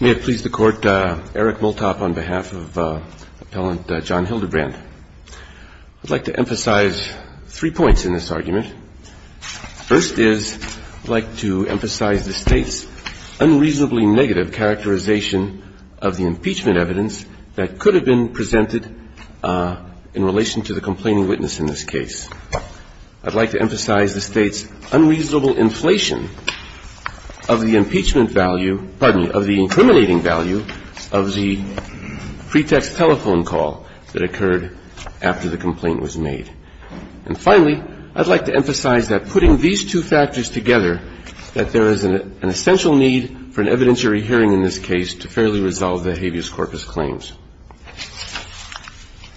May it please the Court, Eric Multop on behalf of Appellant John Hildebrand. I'd like to emphasize three points in this argument. First is, I'd like to emphasize the State's unreasonably negative characterization of the impeachment evidence that could have been presented in relation to the complaining witness in this case. I'd like to emphasize the State's unreasonable inflation of the impeachment value, pardon me, of the incriminating value of the pretext telephone call that occurred after the complaint was made. And finally, I'd like to emphasize that putting these two factors together, that there is an essential need for an evidentiary hearing in this case to fairly resolve the habeas corpus claims.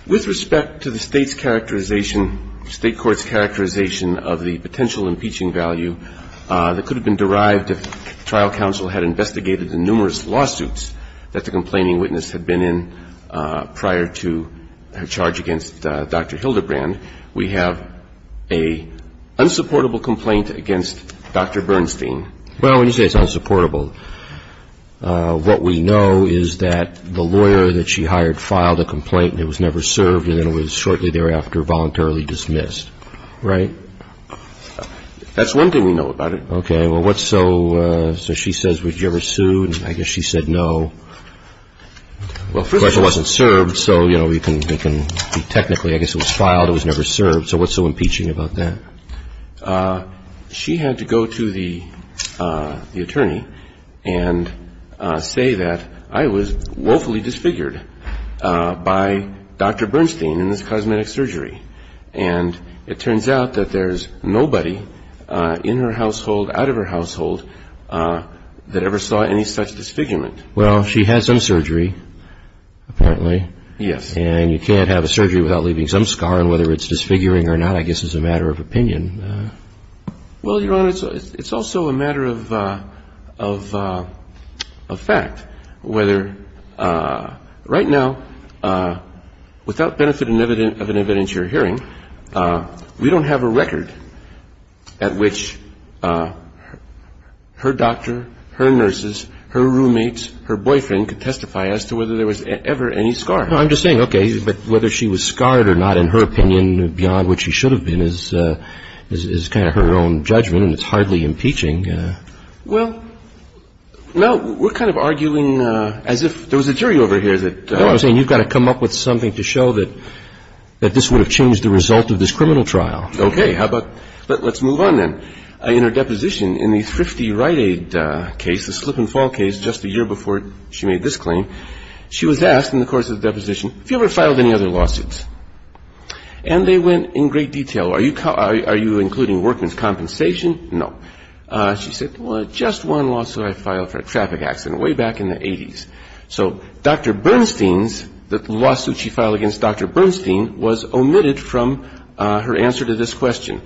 With respect to the State's characterization, State court's characterization of the potential impeaching value that could have been derived if trial counsel had investigated the numerous lawsuits that the complaining witness had been in prior to her charge against Dr. Hildebrand, we have an unsupportable complaint against Dr. Bernstein. Well, when you say it's unsupportable, what we know is that the lawyer that she hired filed a complaint and it was never served, and then it was shortly thereafter voluntarily dismissed, right? That's one thing we know about it. Okay. Well, what's so – so she says, would you ever sue? And I guess she said no. Well, first of all, it wasn't served, so, you know, we can be technically – I guess it was filed, it was never served. So what's so impeaching about that? She had to go to the attorney and say that I was woefully disfigured by Dr. Bernstein in this cosmetic surgery. And it turns out that there's nobody in her household, out of her household, that ever saw any such disfigurement. Well, she had some surgery, apparently. Yes. And you can't have a surgery without leaving some scar, and whether it's disfiguring or not, I guess, is a matter of opinion. Well, Your Honor, it's also a matter of fact, whether – right now, without benefit of an evidence you're hearing, we don't have a record at which her doctor, her nurses, her roommates, her boyfriend could testify as to whether there was ever any scar. No, I'm just saying, okay, but whether she was scarred or not, in her opinion, beyond what she should have been is kind of her own judgment, and it's hardly impeaching. Well, no, we're kind of arguing as if – there was a jury over here that – No, I'm saying you've got to come up with something to show that this would have changed the result of this criminal trial. Okay. How about – let's move on, then. In her deposition, in the Thrifty Rite Aid case, the slip and fall case, just a year before she made this claim, she was asked in the course of the deposition, have you ever filed any other lawsuits? And they went in great detail. Are you including workman's compensation? No. She said, well, just one lawsuit I filed for a traffic accident way back in the 80s. So Dr. Bernstein's – the lawsuit she filed against Dr. Bernstein was omitted from her answer to this question.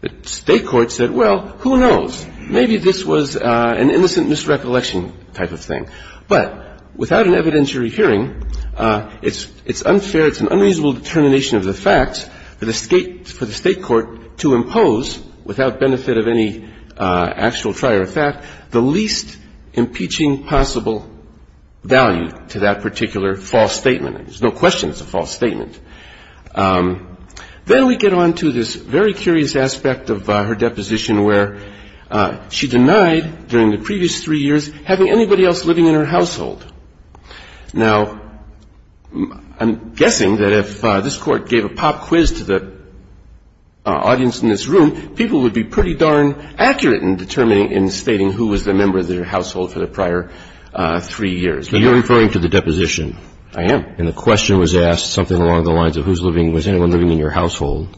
The state court said, well, who knows? Maybe this was an innocent misrecollection type of thing. But without an evidentiary hearing, it's unfair, it's an unreasonable determination of the facts for the state court to impose, without benefit of any actual trier of fact, the least impeaching possible value to that particular false statement. There's no question it's a false statement. Then we get on to this very curious aspect of her deposition where she denied, during the previous three years, having anybody else living in her household. Now, I'm guessing that if this Court gave a pop quiz to the audience in this room, people would be pretty darn accurate in determining, in stating who was the member of their household for the prior three years. So you're referring to the deposition? I am. And the question was asked, something along the lines of who's living – was anyone living in your household?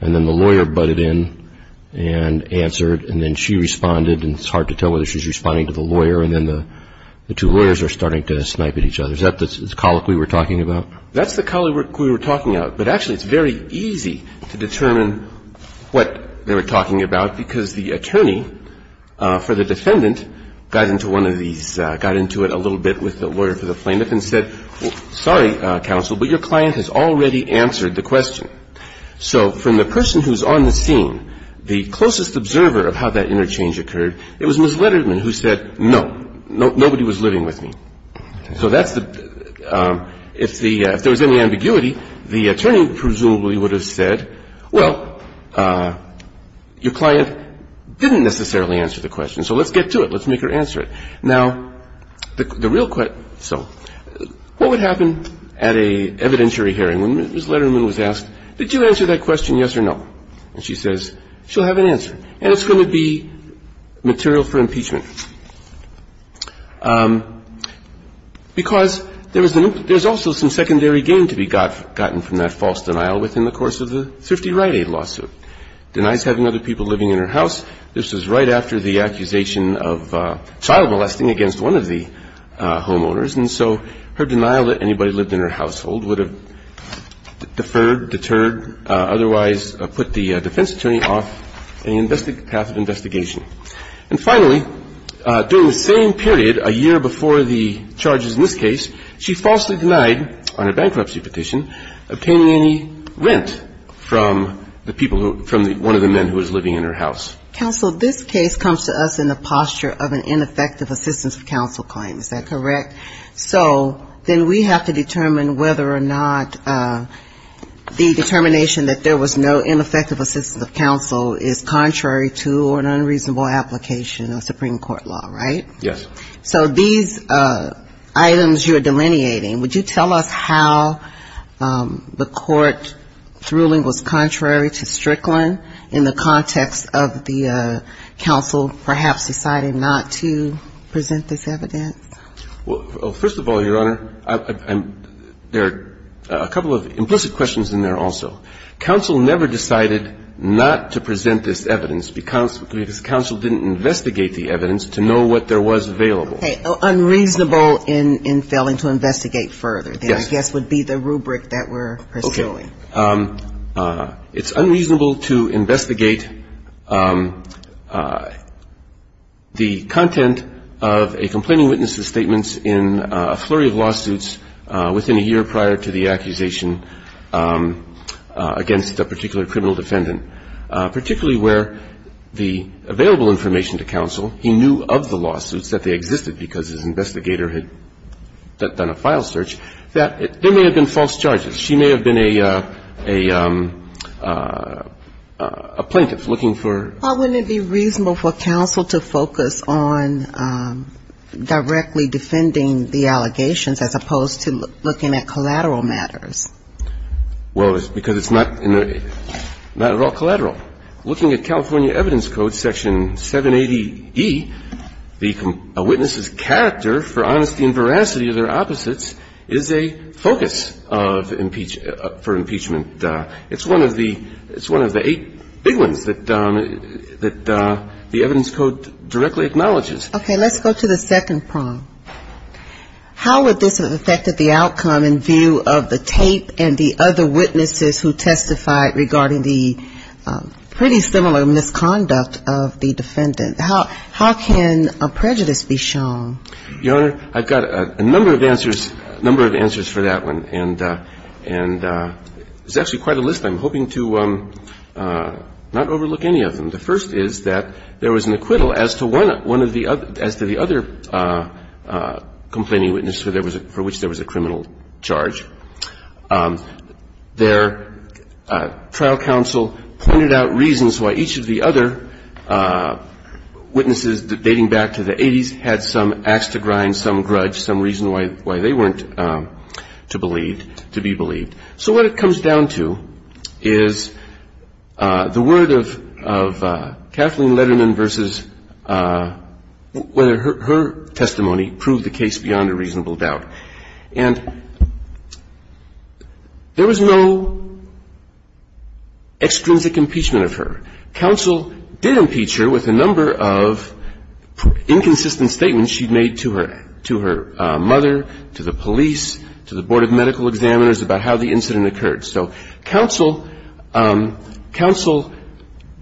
And then the lawyer butted in and answered. And then she responded. And it's hard to tell whether she's responding to the lawyer. And then the two lawyers are starting to snipe at each other. Is that the colloquy we're talking about? That's the colloquy we were talking about. But actually, it's very easy to determine what they were talking about because the attorney for the defendant got into one of these – got into it a little bit with the lawyer for the plaintiff and said, sorry, counsel, but your client has already answered the question. So from the person who's on the scene, the closest observer of how that interchange occurred, it was Ms. Letterman who said, no, nobody was living with me. So that's the – if there was any ambiguity, the attorney presumably would have said, well, your client didn't necessarily answer the question, so let's get to it. Let's make her answer it. Now, the real – so what would happen at an evidentiary hearing when Ms. Letterman was asked, did you answer that question, yes or no? And she says, she'll have an answer. And it's going to be material for impeachment because there was an – there's also some secondary gain to be gotten from that false denial within the course of the 50 Rite Aid lawsuit. Denies having other people living in her house. This was right after the accusation of child molesting against one of the homeowners. And so her denial that anybody lived in her household would have deferred, deterred, otherwise put the defense attorney off any path of investigation. And finally, during the same period, a year before the charges in this case, she falsely denied on a bankruptcy petition obtaining any rent from the people who – from one of the men who was living in her house. Counsel, this case comes to us in the posture of an ineffective assistance of counsel claim. Is that correct? So then we have to determine whether or not the determination that there was no ineffective assistance of counsel is contrary to or an unreasonable application of Supreme Court law, right? Yes. So these items you're delineating, would you tell us how the court's ruling was contrary to Strickland in the context of the counsel perhaps deciding not to present this evidence? Well, first of all, Your Honor, there are a couple of implicit questions in there also. Counsel never decided not to present this evidence because counsel didn't investigate the evidence to know what there was available. Okay. Unreasonable in failing to investigate further. Yes. That I guess would be the rubric that we're pursuing. It's unreasonable to investigate the content of a complaining witness's statements in a flurry of lawsuits within a year prior to the accusation against a particular criminal defendant, particularly where the available information to counsel, he knew of the lawsuits, that they existed because his investigator had done a file search, that there may have been false charges. She may have been a plaintiff looking for ---- Well, wouldn't it be reasonable for counsel to focus on directly defending the allegations as opposed to looking at collateral matters? Well, because it's not at all collateral. Looking at California Evidence Code Section 780E, a witness's character for honesty and veracity of their opposites is a focus for impeachment. It's one of the eight big ones that the evidence code directly acknowledges. Okay. Let's go to the second prong. How would this have affected the outcome in view of the tape and the other witnesses who testified regarding the pretty similar misconduct of the defendant? How can a prejudice be shown? Your Honor, I've got a number of answers for that one. And there's actually quite a list. I'm hoping to not overlook any of them. The first is that there was an acquittal as to the other complaining witness for which there was a criminal charge. Their trial counsel pointed out reasons why each of the other witnesses dating back to the 80s had some axe to grind, some grudge, some reason why they weren't to believe, to be believed. So what it comes down to is the word of Kathleen Letterman versus whether her testimony proved the case beyond a reasonable doubt. And there was no extrinsic impeachment of her. Counsel did impeach her with a number of inconsistent statements she'd made to her mother, to the police, to the board of medical examiners about how the incident occurred. So counsel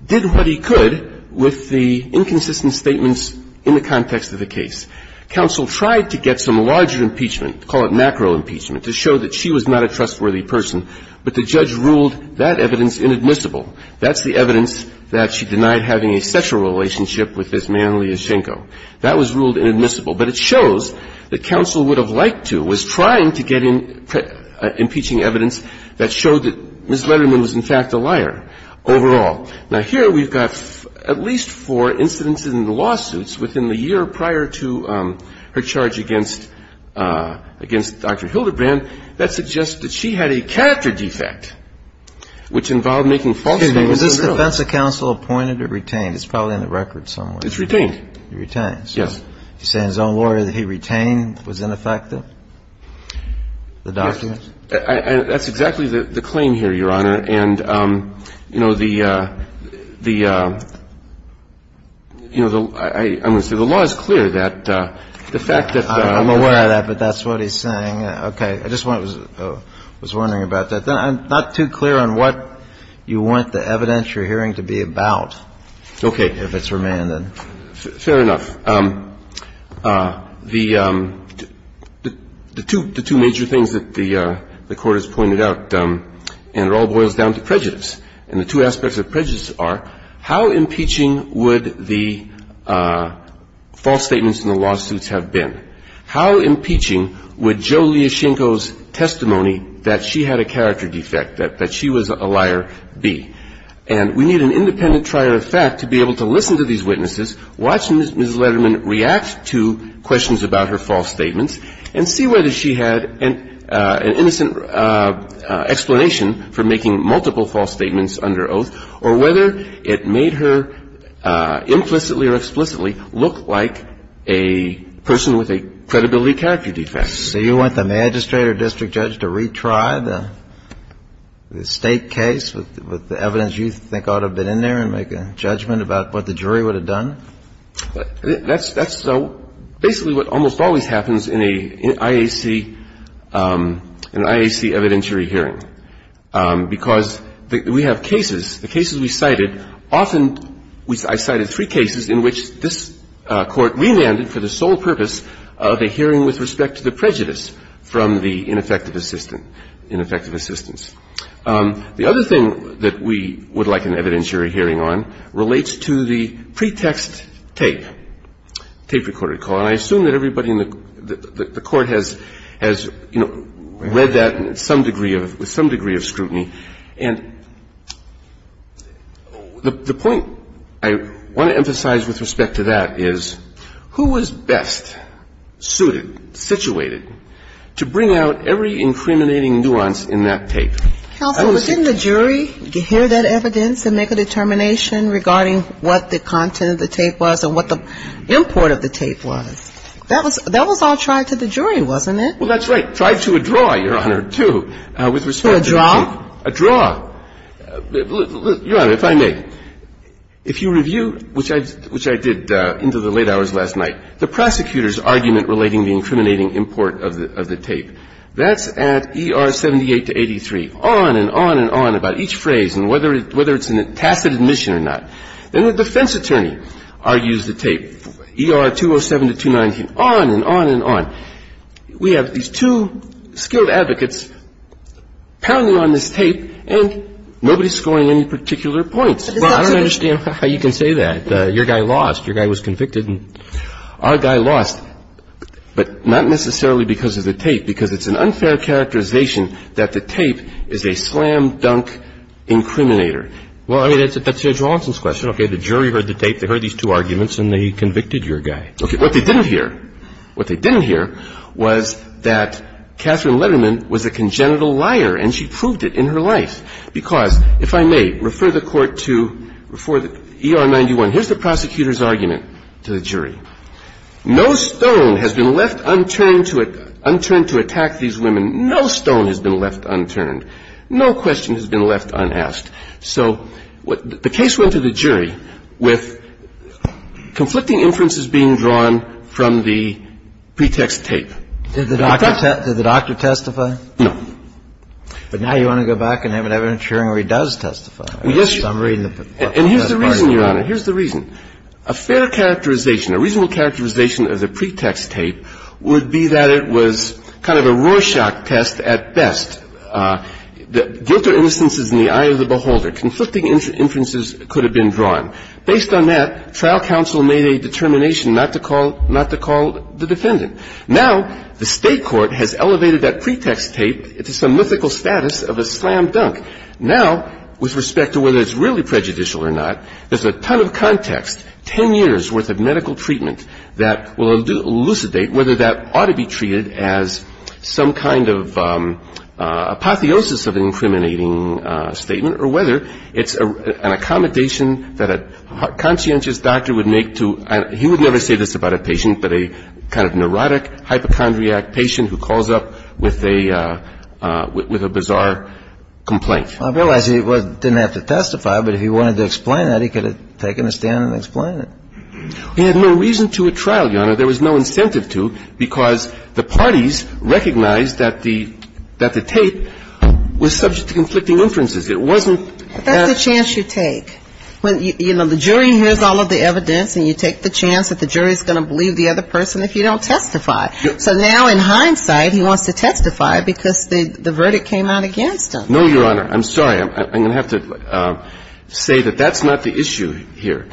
did what he could with the inconsistent statements in the context of the case. Counsel tried to get some larger impeachment, call it macro impeachment, to show that she was not a trustworthy person. But the judge ruled that evidence inadmissible. That's the evidence that she denied having a sexual relationship with this man, Liashchenko. That was ruled inadmissible. But it shows that counsel would have liked to, was trying to get impeaching evidence that showed that Ms. Letterman was in fact a liar overall. Now, here we've got at least four incidents in the lawsuits within the year prior to her charge against Dr. Hildebrand that suggest that she had a character defect which involved making false statements. Was this defense of counsel appointed or retained? It's probably on the record somewhere. It's retained. It's retained. Yes. You're saying his own lawyer that he retained was ineffective? The documents? That's exactly the claim here, Your Honor. And, you know, the law is clear that the fact that the law... I'm aware of that, but that's what he's saying. Okay. I just was wondering about that. I'm not too clear on what you want the evidence you're hearing to be about. Okay. If it's remanded. Fair enough. The two major things that the Court has pointed out, and it all boils down to prejudice, and the two aspects of prejudice are how impeaching would the false statements in the lawsuits have been? How impeaching would Joe Liashchenko's testimony that she had a character defect, that she was a liar, be? And we need an independent trier of fact to be able to listen to these witnesses, watch Ms. Letterman react to questions about her false statements, and see whether she had an innocent explanation for making multiple false statements under oath, or whether it made her implicitly or explicitly look like a person with a credibility character defect. So you want the magistrate or district judge to retry the State case with the evidence you think ought to have been in there and make a judgment about what the jury would have done? That's basically what almost always happens in an IAC evidentiary hearing. Because we have cases, the cases we cited, often I cited three cases in which this Court remanded for the sole purpose of a hearing with respect to the prejudice from the ineffective assistant, ineffective assistants. The other thing that we would like an evidentiary hearing on relates to the pretext tape, tape-recorded call. And I assume that everybody in the Court has, you know, read that with some degree of scrutiny. And the point I want to emphasize with respect to that is, who was best suited, situated, to bring out every incriminating nuance in that tape? Kagan. Counsel, but didn't the jury hear that evidence and make a determination regarding what the content of the tape was and what the import of the tape was? That was all tried to the jury, wasn't it? Well, that's right. Tried to a draw, Your Honor, too, with respect to the tape. To a draw? A draw. Your Honor, if I may, if you review, which I did into the late hours last night, the prosecutor's argument relating the incriminating import of the tape. That's at ER 78 to 83, on and on and on about each phrase and whether it's in a tacit admission or not. Then the defense attorney argues the tape, ER 207 to 219, on and on and on. We have these two skilled advocates pounding on this tape, and nobody's scoring any particular points. I don't understand how you can say that. Your guy lost. Your guy was convicted. Our guy lost, but not necessarily because of the tape, because it's an unfair characterization that the tape is a slam-dunk incriminator. Well, I mean, that's Judge Watson's question. Okay. The jury heard the tape. They heard these two arguments, and they convicted your guy. Okay. What they didn't hear, what they didn't hear was that Katherine Letterman was a congenital liar, and she proved it in her life. And here's what I'm saying here, if I may, because, if I may, refer the Court to ER 91. Here's the prosecutor's argument to the jury. No stone has been left unturned to attack these women. No stone has been left unturned. No question has been left unasked. So what the case went to the jury with conflicting inferences being drawn from the pretext tape. Did the doctor testify? No. But now you want to go back and have an evidence hearing where he does testify. Yes. And here's the reason, Your Honor. Here's the reason. A fair characterization, a reasonable characterization of the pretext tape would be that it was kind of a Rorschach test at best. Guilt or innocence is in the eye of the beholder. Conflicting inferences could have been drawn. Based on that, trial counsel made a determination not to call the defendant. Now the State court has elevated that pretext tape to some mythical status of a slam dunk. Now, with respect to whether it's really prejudicial or not, there's a ton of context, 10 years' worth of medical treatment that will elucidate whether that ought to be treated as some kind of apotheosis of an incriminating statement or whether it's an accommodation that a conscientious doctor would make to, he would never say this about a patient, but a kind of neurotic, hypochondriac patient who calls up with a bizarre complaint. I realize he didn't have to testify, but if he wanted to explain that, he could have taken a stand and explained it. He had no reason to at trial, Your Honor. There was no incentive to because the parties recognized that the tape was subject to conflicting inferences. It wasn't that ---- But that's the chance you take. You know, the jury hears all of the evidence, and you take the chance that the jury is going to believe the other person if you don't testify. So now in hindsight, he wants to testify because the verdict came out against him. No, Your Honor. I'm sorry. I'm going to have to say that that's not the issue here.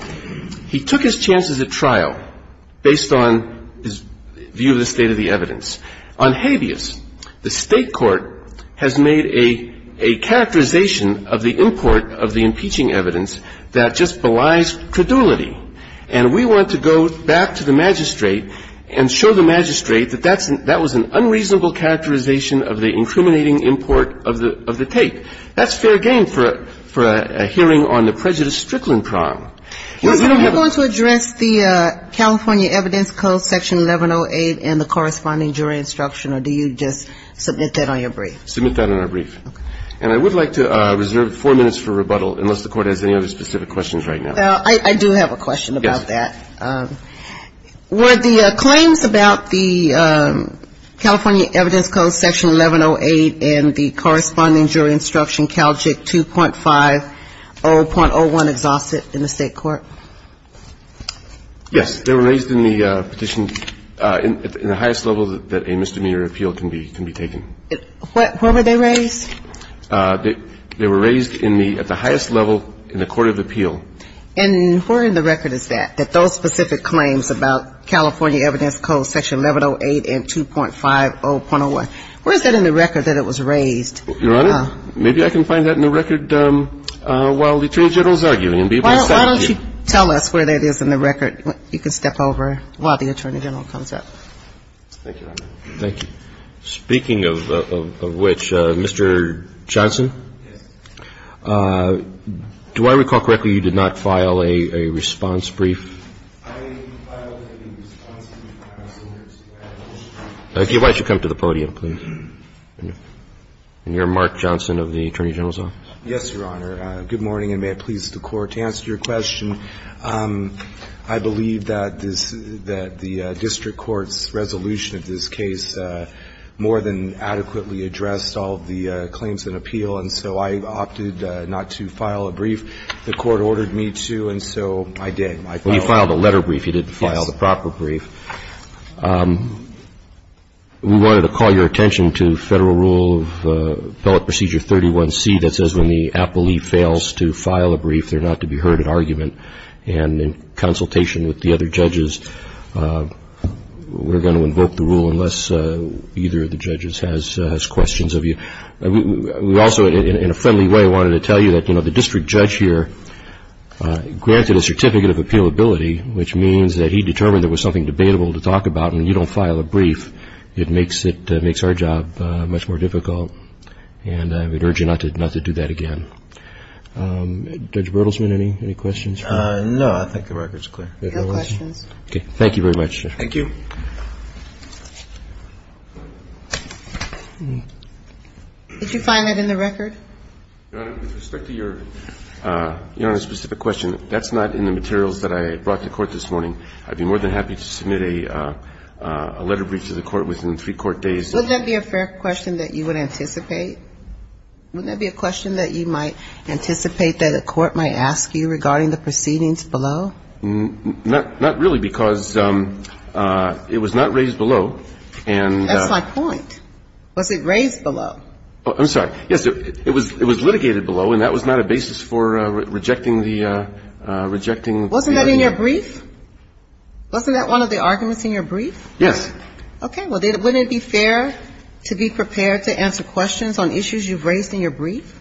He took his chances at trial based on his view of the state of the evidence. On habeas, the State court has made a characterization of the import of the impeaching evidence that just belies credulity. And we want to go back to the magistrate and show the magistrate that that was an unreasonable characterization of the incriminating import of the tape. That's fair game for a hearing on the prejudice strickling crime. Now, Your Honor, are you going to address the California Evidence Code Section 1108 and the corresponding jury instruction, or do you just submit that on your brief? Submit that on our brief. Okay. And I would like to reserve four minutes for rebuttal unless the Court has any other specific questions right now. I do have a question about that. Yes. Were the claims about the California Evidence Code Section 1108 and the corresponding jury instruction, CALJIC 2.50.01, exhausted in the State court? Yes. They were raised in the petition in the highest level that a misdemeanor appeal can be taken. Where were they raised? They were raised in the at the highest level in the court of appeal. And where in the record is that, that those specific claims about California Evidence Code Section 1108 and 2.50.01, where is that in the record that it was raised? Your Honor, maybe I can find that in the record while the Attorney General is arguing. Why don't you tell us where that is in the record? You can step over while the Attorney General comes up. Thank you, Your Honor. Thank you. Speaking of which, Mr. Johnson? Yes. Do I recall correctly you did not file a response brief? I filed a response brief. Why don't you come to the podium, please? And you're Mark Johnson of the Attorney General's office? Yes, Your Honor. Good morning, and may it please the Court. To answer your question, I believe that this, that the district court's resolution of this case more than adequately addressed all of the claims in appeal, and so I opted not to file a brief. The Court ordered me to, and so I did. Well, you filed a letter brief. You didn't file the proper brief. Yes. We wanted to call your attention to Federal Rule of Appellate Procedure 31C that says when the appellee fails to file a brief, they're not to be heard at argument. And in consultation with the other judges, we're going to invoke the rule unless either of the judges has questions of you. We also, in a friendly way, wanted to tell you that, you know, the district judge here granted a certificate of appealability, which means that he determined there was something debatable to talk about, and when you don't file a brief, it makes our job much more difficult. And I would urge you not to do that again. Judge Bertelsman, any questions? No. I think the record's clear. No questions. Okay. Thank you very much. Thank you. Did you find that in the record? Your Honor, with respect to your specific question, that's not in the materials that I brought to court this morning. I'd be more than happy to submit a letter brief to the Court within three court days. Wouldn't that be a fair question that you would anticipate? Wouldn't that be a question that you might anticipate that a court might ask you regarding the proceedings below? Not really, because it was not raised below. That's my point. Was it raised below? I'm sorry. Yes, it was litigated below, and that was not a basis for rejecting the ---- Wasn't that in your brief? Wasn't that one of the arguments in your brief? Yes. Okay. Well, wouldn't it be fair to be prepared to answer questions on issues you've raised in your brief?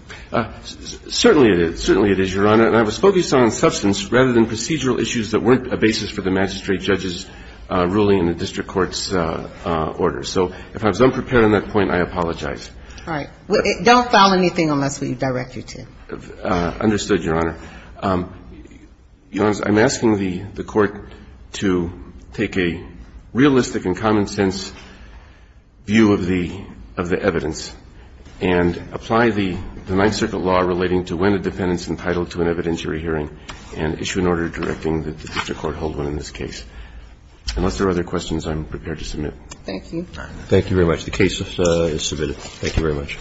Certainly it is. Certainly it is, Your Honor. And I was focused on substance rather than procedural issues that weren't a basis for the magistrate judge's ruling in the district court's order. So if I was unprepared on that point, I apologize. All right. Don't file anything unless we direct you to. Understood, Your Honor. Your Honor, I'm asking the Court to take a realistic and common-sense view of the evidence and apply the Ninth Circuit law relating to when a defendant is entitled to an evidentiary hearing and issue an order directing that the district court hold one in this case. Unless there are other questions, I'm prepared to submit. Thank you. Thank you very much. The case is submitted. Thank you very much.